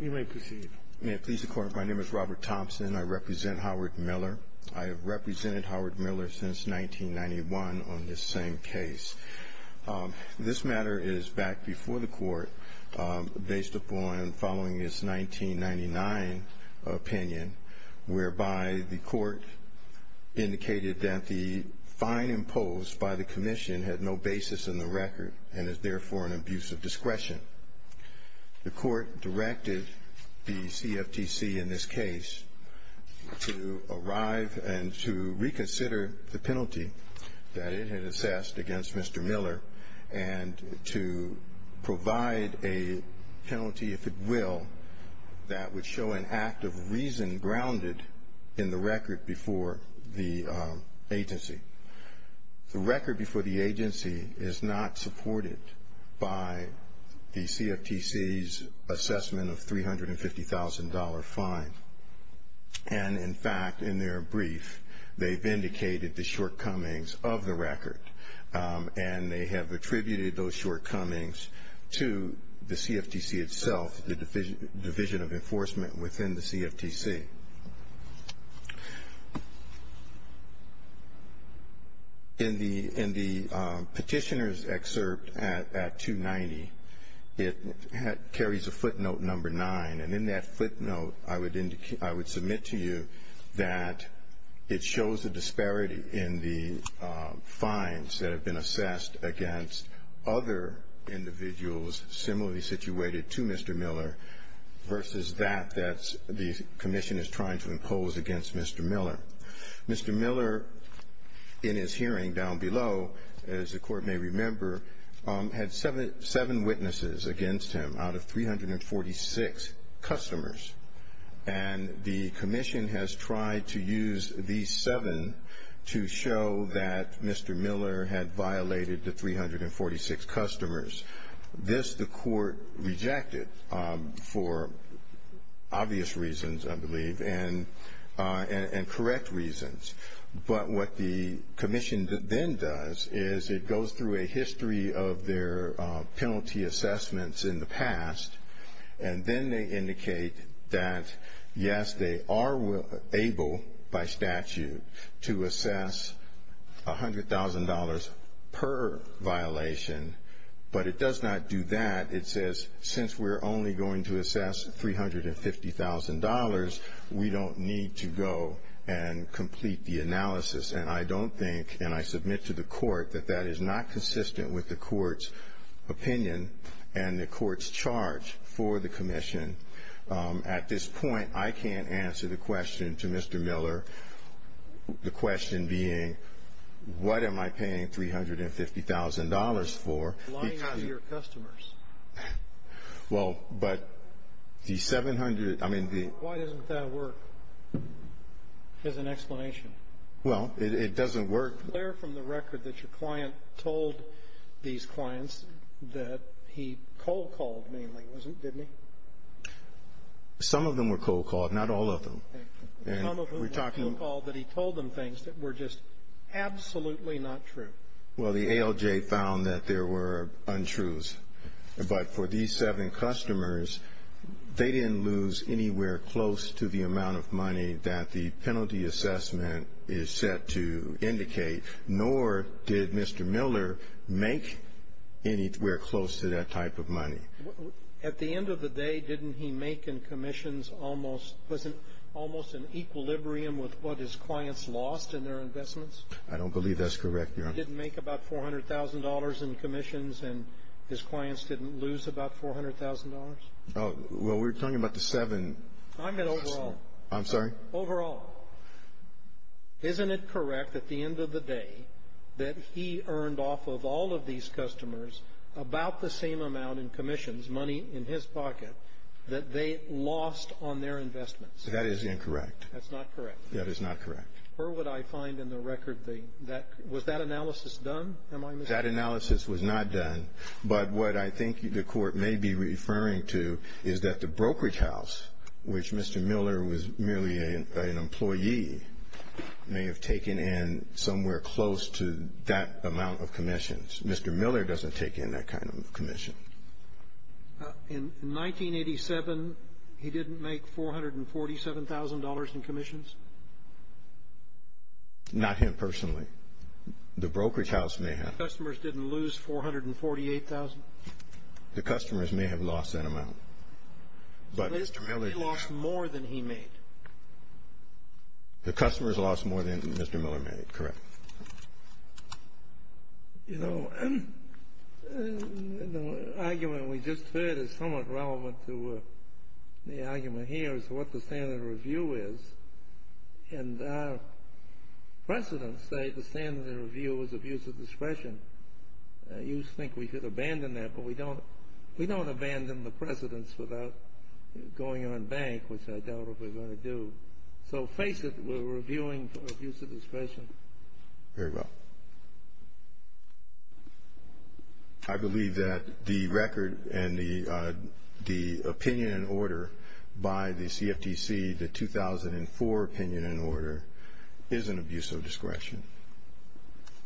You may proceed. May it please the Court, my name is Robert Thompson. I represent Howard Miller. I have represented Howard Miller since 1991 on this same case. This matter is back before the Court based upon following his 1999 opinion whereby the Court indicated that the fine imposed by the Commission had no basis in the record and is therefore an abuse of discretion. The Court directed the CFTC in this case to arrive and to reconsider the penalty that it had assessed against Mr. Miller and to provide a penalty, if it will, that would show an act of reason grounded in the record before the agency. The record before the agency is not supported by the CFTC's assessment of $350,000 fine. And in fact, in their brief, they've indicated the shortcomings of the record and they have attributed those within the CFTC. In the petitioner's excerpt at 290, it carries a footnote number 9. And in that footnote, I would submit to you that it shows a disparity in the fines that have been the Commission is trying to impose against Mr. Miller. Mr. Miller, in his hearing down below, as the Court may remember, had seven witnesses against him out of 346 customers. And the Commission has tried to use these seven to show that Mr. Miller had violated the 346 customers. This, the Court rejected for obvious reasons, I believe, and correct reasons. But what the Commission then does is it goes through a history of their penalty assessments in the past. And then they indicate that, yes, they are able, by statute, to assess $100,000 per violation. But it does not do that. It says, since we're only going to assess $350,000, we don't need to go and complete the analysis. And I don't think, and I submit to the Court, that that is not At this point, I can't answer the question to Mr. Miller, the question being, what am I paying $350,000 for? Lying to your customers. Well, but the 700, I mean, the Why doesn't that work as an explanation? Well, it doesn't work. It's clear from the record that your client told these clients that he cold-called, mainly, didn't he? Some of them were cold-called, not all of them. Some of them were cold-called that he told them things that were just absolutely not true. Well, the ALJ found that there were untruths. But for these seven customers, they didn't lose anywhere close to the amount of money that the penalty assessment is set to indicate, nor did At the end of the day, didn't he make in commissions almost an equilibrium with what his clients lost in their investments? I don't believe that's correct, Your Honor. He didn't make about $400,000 in commissions, and his clients didn't lose about $400,000? Well, we're talking about the seven I meant overall. I'm sorry? Overall. Isn't it correct, at the end of the day, that he earned off of all of these customers about the same amount in commissions, money in his pocket, that they lost on their investments? That is incorrect. That's not correct? That is not correct. Where would I find in the record the, that, was that analysis done? That analysis was not done, but what I think the Court may be referring to is that the brokerage house, which Mr. Miller was merely an employee, may have taken in somewhere close to that amount of commissions. Mr. Miller doesn't take in that kind of commission. In 1987, he didn't make $447,000 in commissions? Not him personally. The brokerage house may have. The customers didn't lose $448,000? The customers may have lost that amount. So Mr. Miller lost more than he made? The customers lost more than Mr. Miller made, correct. You know, the argument we just heard is somewhat relevant to the argument here as to what the standard of review is. And our precedents say the standard of review is abuse of discretion. You think we should abandon that, but we don't abandon the precedents without going on bank, which I doubt if we're going to do. So face it, we're reviewing for abuse of discretion. Very well. I believe that the record and the opinion in order by the CFTC, the 2004 opinion in order, is an abuse of discretion.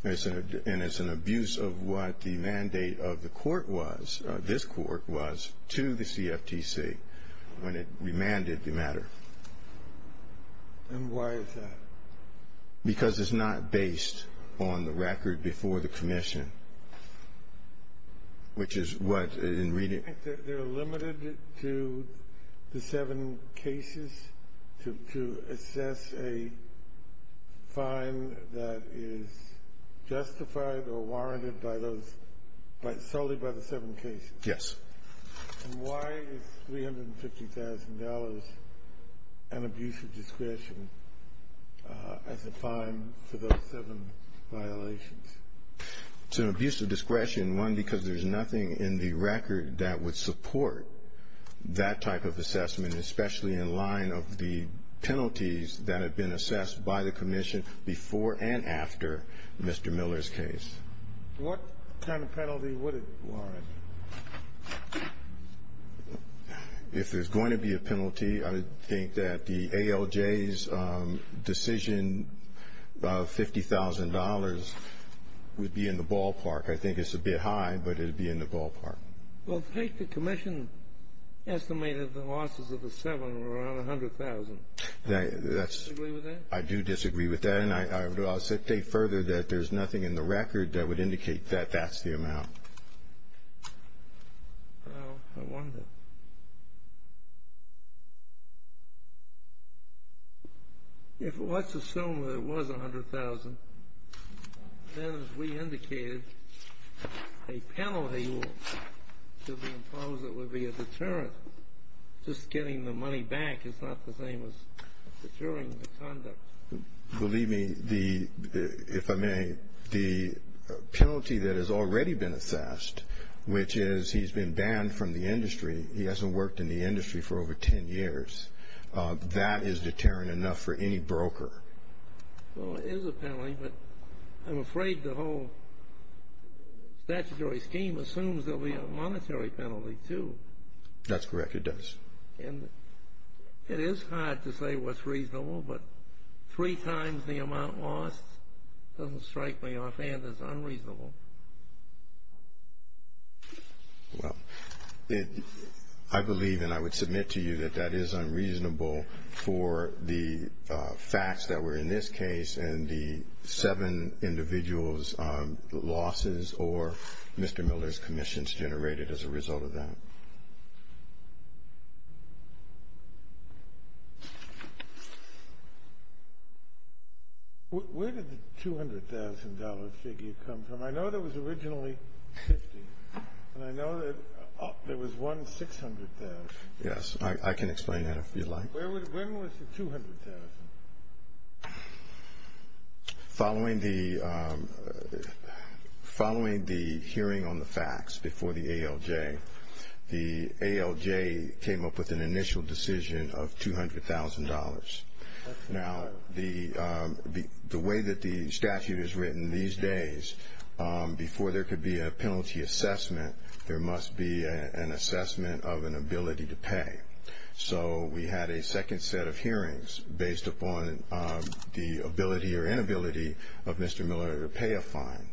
And it's an abuse of what the mandate of the court was, this court was, to the CFTC when it remanded the matter. And why is that? Because it's not based on the record before the commission. Which is what, in reading? They're limited to the seven cases to assess a fine that is justified or warranted by those, solely by the seven cases. Yes. And why is $350,000 an abuse of discretion as a fine for those seven violations? It's an abuse of discretion, one, because there's nothing in the record that would support that type of assessment, especially in line of the penalties that have been assessed by the commission before and after Mr. Miller's case. What kind of penalty would it warrant? If there's going to be a penalty, I would think that the ALJ's decision of $50,000 would be in the ballpark. I think it's a bit high, but it would be in the ballpark. Well, I think the commission estimated the losses of the seven were around $100,000. Do you disagree with that? I do disagree with that. Again, I'll state further that there's nothing in the record that would indicate that that's the amount. Well, I wonder. Let's assume that it was $100,000. Then, as we indicated, a penalty to be imposed, it would be a deterrent. Just getting the money back is not the same as securing the conduct. Believe me, if I may, the penalty that has already been assessed, which is he's been banned from the industry, he hasn't worked in the industry for over 10 years, that is deterrent enough for any broker. Well, it is a penalty, but I'm afraid the whole statutory scheme assumes there will be a monetary penalty, too. That's correct. It does. And it is hard to say what's reasonable, but three times the amount lost doesn't strike me off and is unreasonable. Well, I believe and I would submit to you that that is unreasonable for the facts that were in this case and the seven individuals' losses or Mr. Miller's commissions generated as a result of that. Where did the $200,000 figure come from? I know there was originally $50,000, and I know that there was one $600,000. Yes, I can explain that if you'd like. When was the $200,000? Following the hearing on the facts before the ALJ, the ALJ came up with an initial decision of $200,000. Now, the way that the statute is written these days, before there could be a penalty assessment, there must be an assessment of an ability to pay. So we had a second set of hearings based upon the ability or inability of Mr. Miller to pay a fine.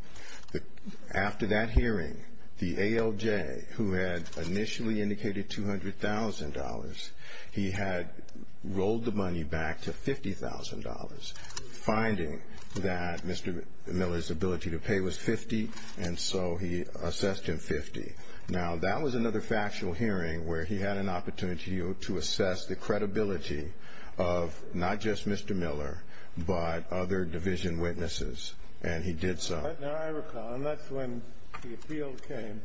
After that hearing, the ALJ, who had initially indicated $200,000, he had rolled the money back to $50,000, finding that Mr. Miller's ability to pay was 50, and so he assessed him 50. Now, that was another factual hearing where he had an opportunity to assess the credibility of not just Mr. Miller, but other division witnesses, and he did so. Now I recall, and that's when the appeal came.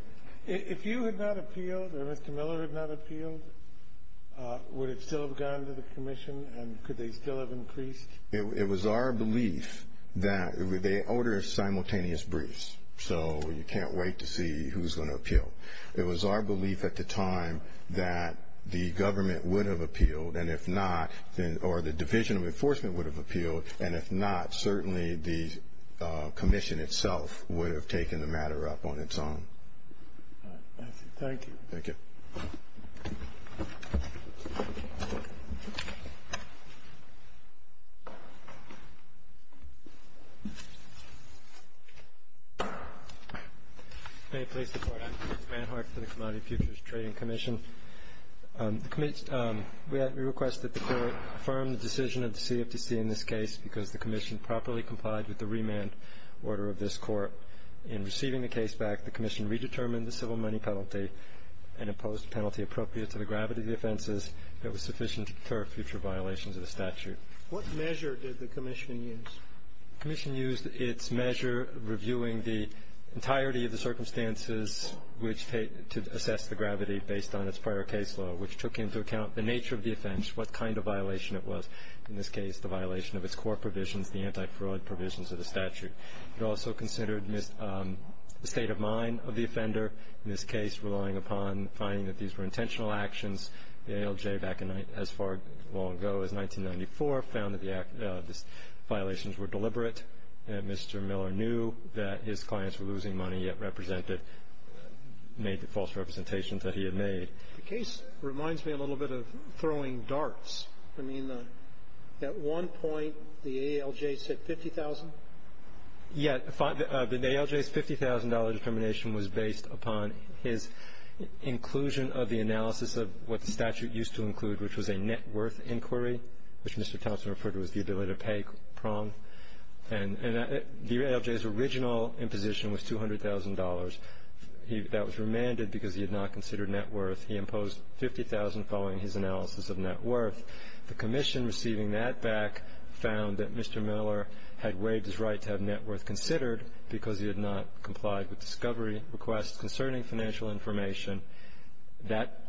If you had not appealed or Mr. Miller had not appealed, would it still have gone to the commission, and could they still have increased? It was our belief that they order simultaneous briefs, so you can't wait to see who's going to appeal. It was our belief at the time that the government would have appealed, and if not, or the Division of Enforcement would have appealed, and if not, certainly the commission itself would have taken the matter up on its own. Thank you. Thank you. May I please report? I'm Chris Manhart for the Commodity Futures Trading Commission. We request that the court affirm the decision of the CFTC in this case because the commission properly complied with the remand order of this court. In receiving the case back, the commission redetermined the civil money penalty and imposed a penalty appropriate to the gravity of the offenses that was sufficient to deter future violations of the statute. What measure did the commission use? The commission used its measure reviewing the entirety of the circumstances to assess the gravity based on its prior case law, which took into account the nature of the offense, what kind of violation it was. In this case, the violation of its core provisions, the anti-fraud provisions of the statute. It also considered the state of mind of the offender, in this case relying upon finding that these were intentional actions. The ALJ back as far long ago as 1994 found that the violations were deliberate. Mr. Miller knew that his clients were losing money, yet made the false representations that he had made. The case reminds me a little bit of throwing darts. I mean, at one point the ALJ said $50,000? Yeah. The ALJ's $50,000 determination was based upon his inclusion of the analysis of what the statute used to include, which was a net worth inquiry, which Mr. Thompson referred to as the ability to pay prong. And the ALJ's original imposition was $200,000. That was remanded because he had not considered net worth. He imposed $50,000 following his analysis of net worth. The commission receiving that back found that Mr. Miller had waived his right to have net worth considered because he had not complied with discovery requests concerning financial information. That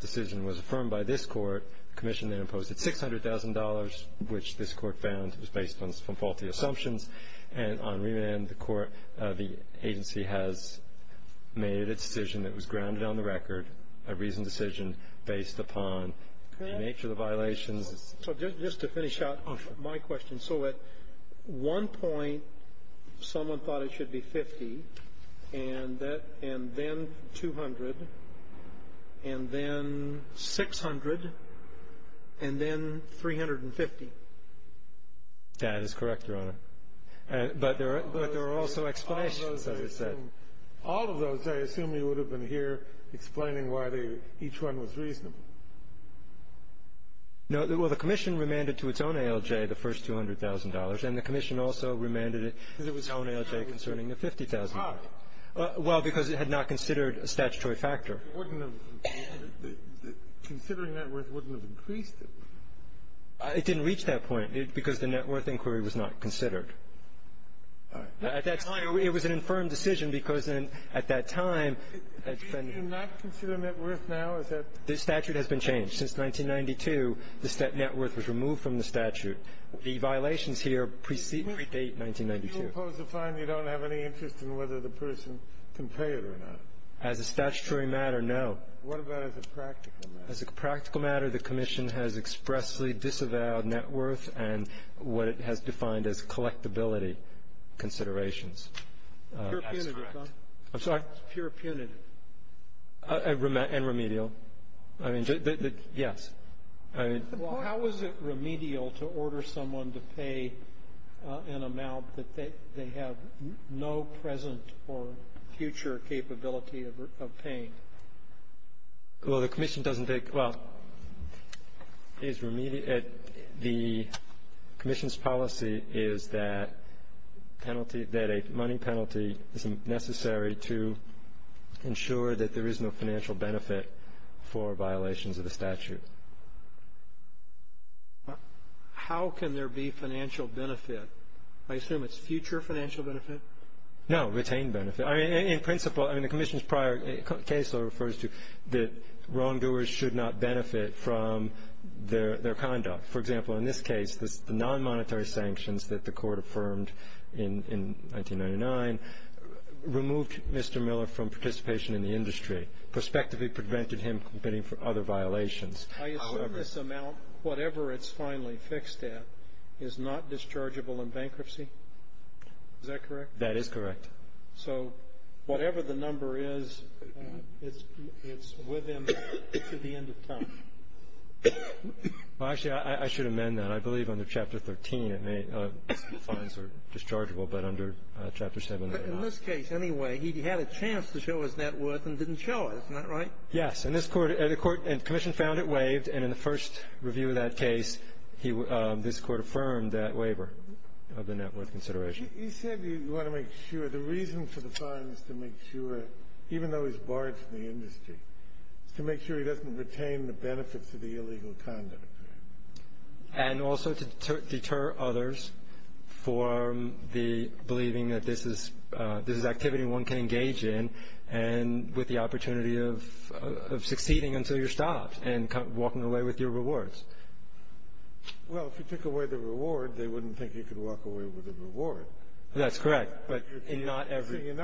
decision was affirmed by this court. The commission then imposed $600,000, which this court found was based on faulty assumptions. And on remand, the agency has made a decision that was grounded on the record, a reasoned decision based upon the nature of the violations. So just to finish out my question, so at one point someone thought it should be $50,000, and then $200,000, and then $600,000, and then $350,000. That is correct, Your Honor. But there are also explanations, as I said. All of those, I assume you would have been here explaining why each one was reasonable. No, well, the commission remanded to its own ALJ the first $200,000, and the commission also remanded it to its own ALJ concerning the $50,000. How? Well, because it had not considered a statutory factor. It wouldn't have increased it? Considering net worth wouldn't have increased it? It didn't reach that point because the net worth inquiry was not considered. All right. It was an infirm decision because then at that time the statute has been changed. Since 1992, the net worth was removed from the statute. The violations here predate 1992. Are you opposed to finding you don't have any interest in whether the person can pay it or not? As a statutory matter, no. What about as a practical matter? As a practical matter, the commission has expressly disavowed net worth and what it has defined as collectability considerations. That's correct. Pure punitive, huh? I'm sorry? Pure punitive. And remedial. I mean, yes. Well, how is it remedial to order someone to pay an amount that they have no present or future capability of paying? Well, the commission doesn't take the commission's policy is that penalty that a money penalty is necessary to ensure that there is no financial benefit for violations of the statute. How can there be financial benefit? I assume it's future financial benefit? No, retained benefit. In principle, I mean, the commission's prior case law refers to that wrongdoers should not benefit from their conduct. For example, in this case, the non-monetary sanctions that the court affirmed in 1999 removed Mr. Miller from participation in the industry, prospectively prevented him from committing other violations. I assume this amount, whatever it's finally fixed at, is not dischargeable in bankruptcy? Is that correct? That is correct. So whatever the number is, it's within the end of time? Well, actually, I should amend that. I believe under Chapter 13, fines are dischargeable, but under Chapter 7, they're not. Well, in this case, anyway, he had a chance to show his net worth and didn't show it. Isn't that right? Yes. And this court or the court or the commission found it waived, and in the first review of that case, this court affirmed that waiver of the net worth consideration. You said you want to make sure. The reason for the fine is to make sure, even though he's barred from the industry, is to make sure he doesn't retain the benefits of the illegal conduct. And also to deter others from believing that this is activity one can engage in and with the opportunity of succeeding until you're stopped and walking away with your rewards. Well, if you took away the reward, they wouldn't think you could walk away with a reward. That's correct, but not every. See,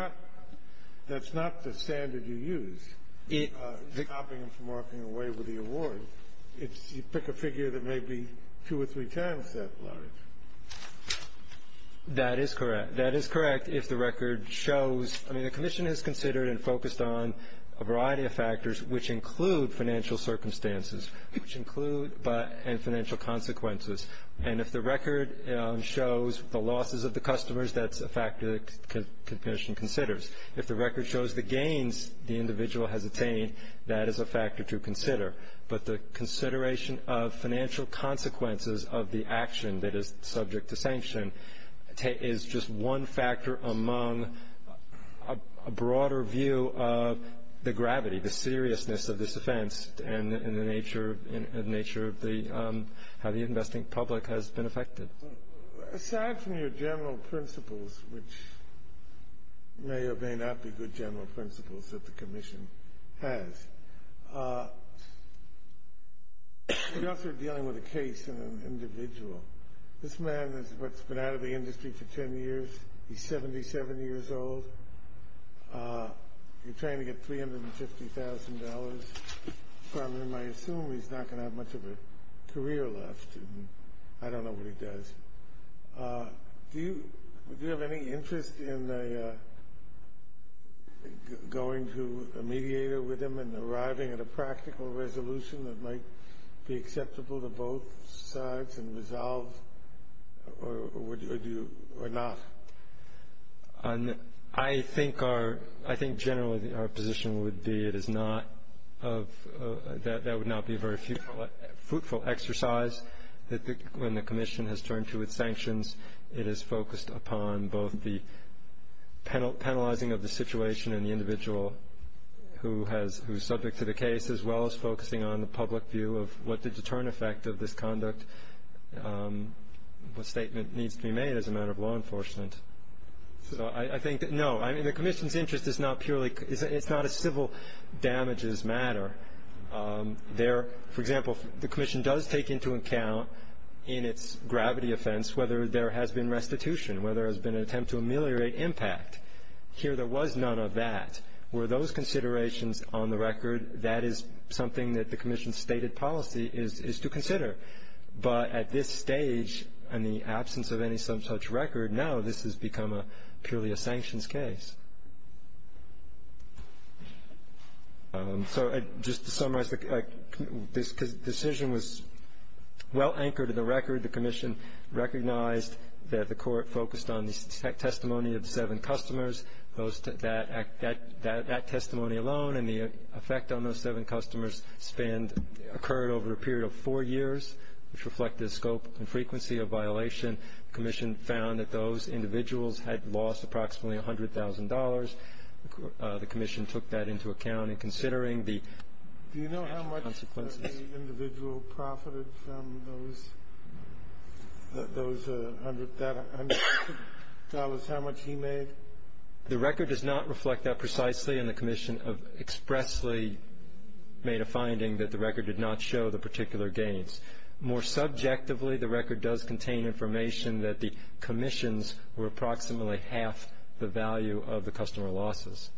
that's not the standard you use, stopping him from walking away with the award. You pick a figure that may be two or three times that large. That is correct. That is correct if the record shows. I mean, the commission has considered and focused on a variety of factors, which include financial circumstances, which include financial consequences. And if the record shows the losses of the customers, that's a factor the commission considers. If the record shows the gains the individual has attained, that is a factor to consider. But the consideration of financial consequences of the action that is subject to sanction is just one factor among a broader view of the gravity, the seriousness of this offense and the nature of how the investing public has been affected. Aside from your general principles, which may or may not be good general principles that the commission has, you're also dealing with a case and an individual. This man has been out of the industry for 10 years. He's 77 years old. You're trying to get $350,000 from him. I assume he's not going to have much of a career left. I don't know what he does. Do you have any interest in going to a mediator with him and arriving at a practical resolution that might be acceptable to both sides and resolve or not? I think generally our position would be it is not of that would not be a very fruitful exercise when the commission has turned to its sanctions. It is focused upon both the penalizing of the situation and the individual who is subject to the case as well as focusing on the public view of what the deterrent effect of this conduct, what statement needs to be made as a matter of law enforcement. No, the commission's interest is not a civil damages matter. For example, the commission does take into account in its gravity offense whether there has been restitution, whether there has been an attempt to ameliorate impact. Here there was none of that. Were those considerations on the record, that is something that the commission's stated policy is to consider. But at this stage, in the absence of any some such record, no, this has become purely a sanctions case. So just to summarize, this decision was well anchored in the record. The commission recognized that the court focused on the testimony of the seven customers. That testimony alone and the effect on those seven customers occurred over a period of four years, which reflected the scope and frequency of violation. The commission found that those individuals had lost approximately $100,000. The commission took that into account in considering the consequences. Do you know how much the individual profited from those $100,000, how much he made? The record does not reflect that precisely, and the commission expressly made a finding that the record did not show the particular gains. More subjectively, the record does contain information that the commissions were approximately half the value of the customer losses.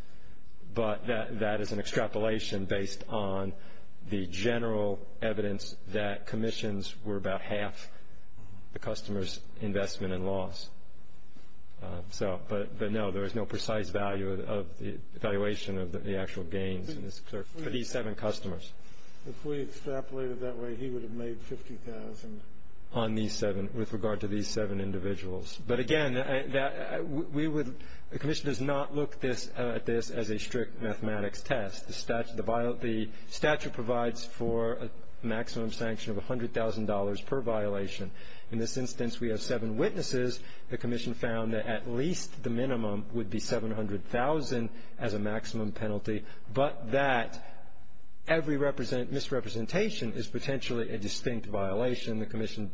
But that is an extrapolation based on the general evidence that commissions were about half the customer's investment and loss. But, no, there is no precise value of the evaluation of the actual gains for these seven customers. If we extrapolated that way, he would have made $50,000. On these seven, with regard to these seven individuals. But, again, the commission does not look at this as a strict mathematics test. The statute provides for a maximum sanction of $100,000 per violation. In this instance, we have seven witnesses. The commission found that at least the minimum would be $700,000 as a maximum penalty, but that every misrepresentation is potentially a distinct violation. The commission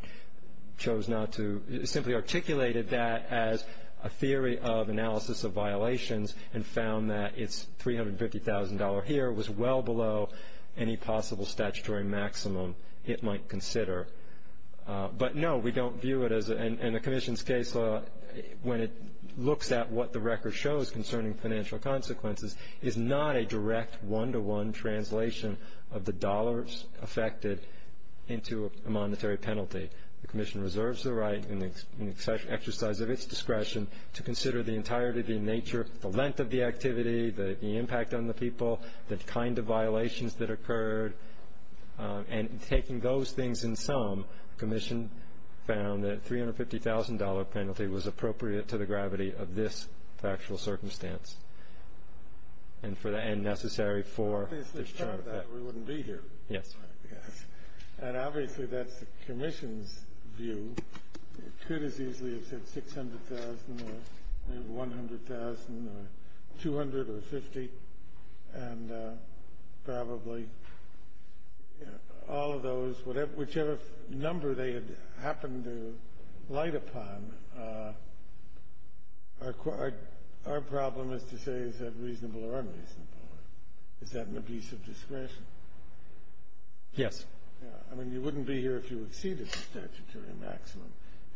chose not to, simply articulated that as a theory of analysis of violations and found that it's $350,000 here was well below any possible statutory maximum it might consider. But, no, we don't view it as, and the commission's case law, when it looks at what the record shows concerning financial consequences, is not a direct one-to-one translation of the dollars affected into a monetary penalty. The commission reserves the right, in the exercise of its discretion, to consider the entirety of the nature, the length of the activity, the impact on the people, the kind of violations that occurred. And taking those things in sum, the commission found that a $350,000 penalty was appropriate to the gravity of this factual circumstance and necessary for this charge. If they stopped that, we wouldn't be here. Yes. And obviously that's the commission's view. It could as easily have said $600,000 or $100,000 or $200,000 or $50,000, and probably all of those, whichever number they had happened to light upon, our problem is to say is that reasonable or unreasonable? Is that an abuse of discretion? Yes. I mean, you wouldn't be here if you exceeded the statutory maximum.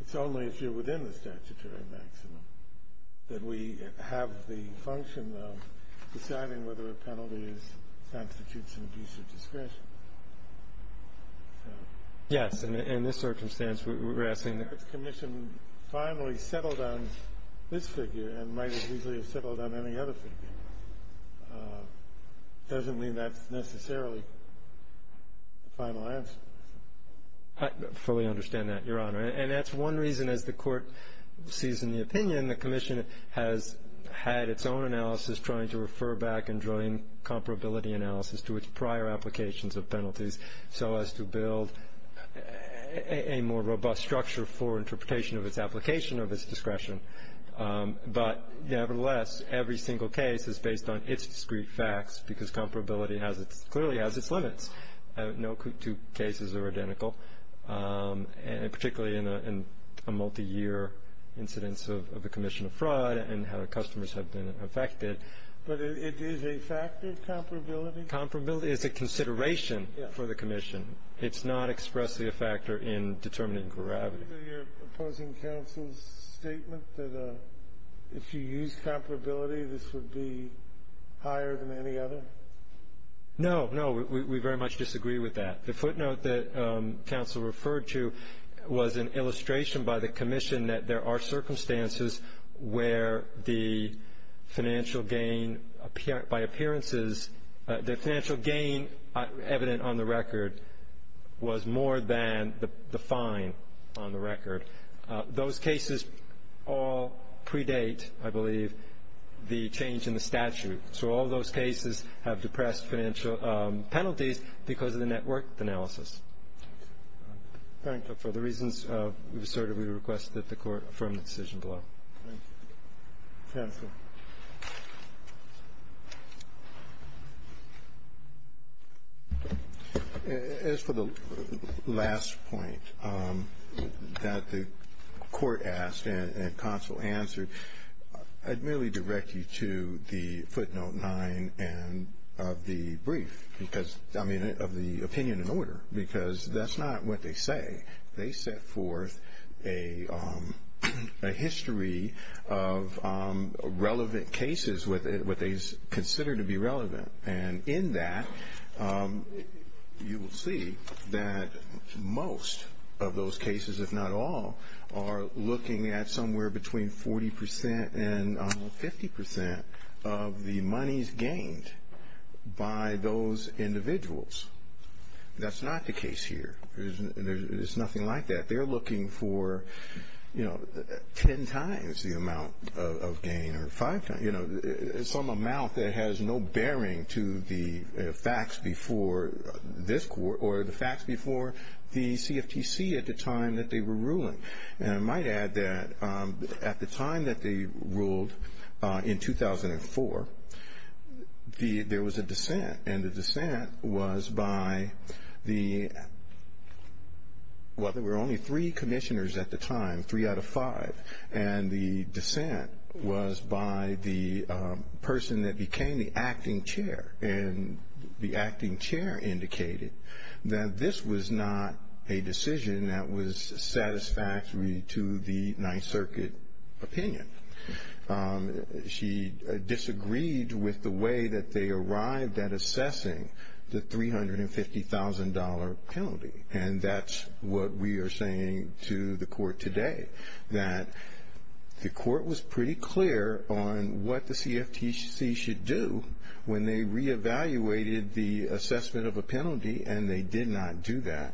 It's only if you're within the statutory maximum that we have the function of deciding whether a penalty constitutes an abuse of discretion. Yes. In this circumstance, we're asking the commission finally settled on this figure and might as easily have settled on any other figure. It doesn't mean that's necessarily the final answer. I fully understand that, Your Honor. And that's one reason, as the Court sees in the opinion, the commission has had its own analysis trying to refer back and drawing comparability analysis to its prior applications of penalties so as to build a more robust structure for interpretation of its application of its discretion. But nevertheless, every single case is based on its discrete facts because comparability clearly has its limits. No two cases are identical, particularly in a multiyear incidence of a commission of fraud and how the customers have been affected. But it is a factor, comparability? Comparability is a consideration for the commission. It's not expressly a factor in determining gravity. Would it be your opposing counsel's statement that if you use comparability, this would be higher than any other? No, no, we very much disagree with that. The footnote that counsel referred to was an illustration by the commission that there are circumstances where the financial gain by appearances, the financial gain evident on the record was more than the fine on the record. Those cases all predate, I believe, the change in the statute. So all those cases have depressed financial penalties because of the networked analysis. Thank you. For the reasons asserted, we request that the Court affirm the decision below. Thank you. Counsel. As for the last point that the Court asked and counsel answered, I'd merely direct you to the footnote nine of the opinion in order because that's not what they say. They set forth a history of relevant cases, what they consider to be relevant. And in that, you will see that most of those cases, if not all, are looking at somewhere between 40% and 50% of the monies gained by those individuals. That's not the case here. There's nothing like that. They're looking for, you know, ten times the amount of gain or five times, you know, some amount that has no bearing to the facts before this Court And I might add that at the time that they ruled in 2004, there was a dissent. And the dissent was by the, well, there were only three commissioners at the time, three out of five. And the dissent was by the person that became the acting chair. And the acting chair indicated that this was not a decision that was satisfactory to the Ninth Circuit opinion. She disagreed with the way that they arrived at assessing the $350,000 penalty. And that's what we are saying to the Court today, that the Court was pretty clear on what the CFTC should do when they re-evaluated the assessment of a penalty, and they did not do that.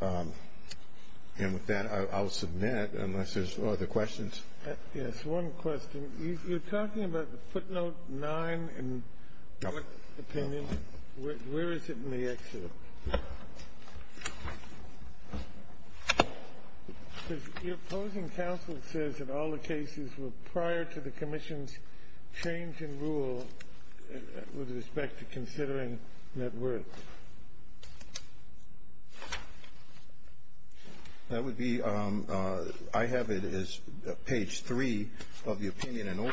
And with that, I'll submit, unless there's other questions. Yes, one question. You're talking about footnote 9 in your opinion. Where is it in the exit? Because the opposing counsel says that all the cases were prior to the commission's change in rule with respect to considering net worth. That would be ‑‑ I have it as page 3 of the opinion in order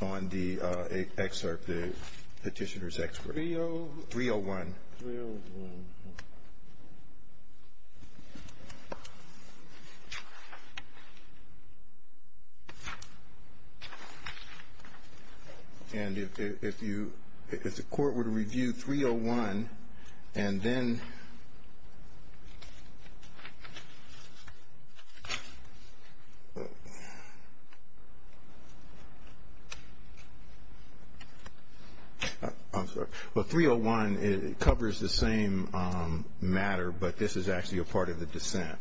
on the excerpt, the petitioner's expert. 301. And if you ‑‑ if the Court were to review 301, and then ‑‑ I'm sorry. But 301 covers the same matter, but this is actually a part of the dissent.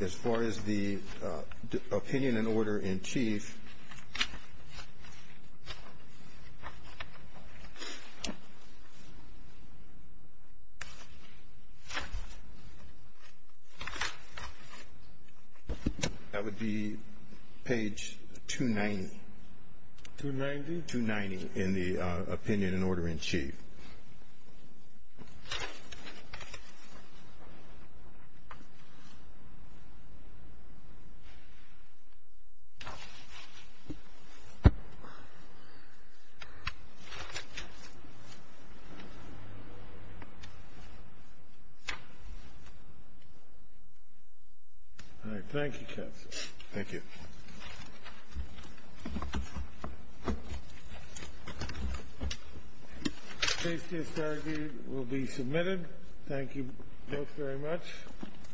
As far as the opinion in order in chief, that would be page 290. 290? 290 in the opinion in order in chief. All right. Thank you, counsel. Thank you. Thank you. Thank you. Thank you. Thank you. Thank you. The case case directory will be submitted. Thank you both very much.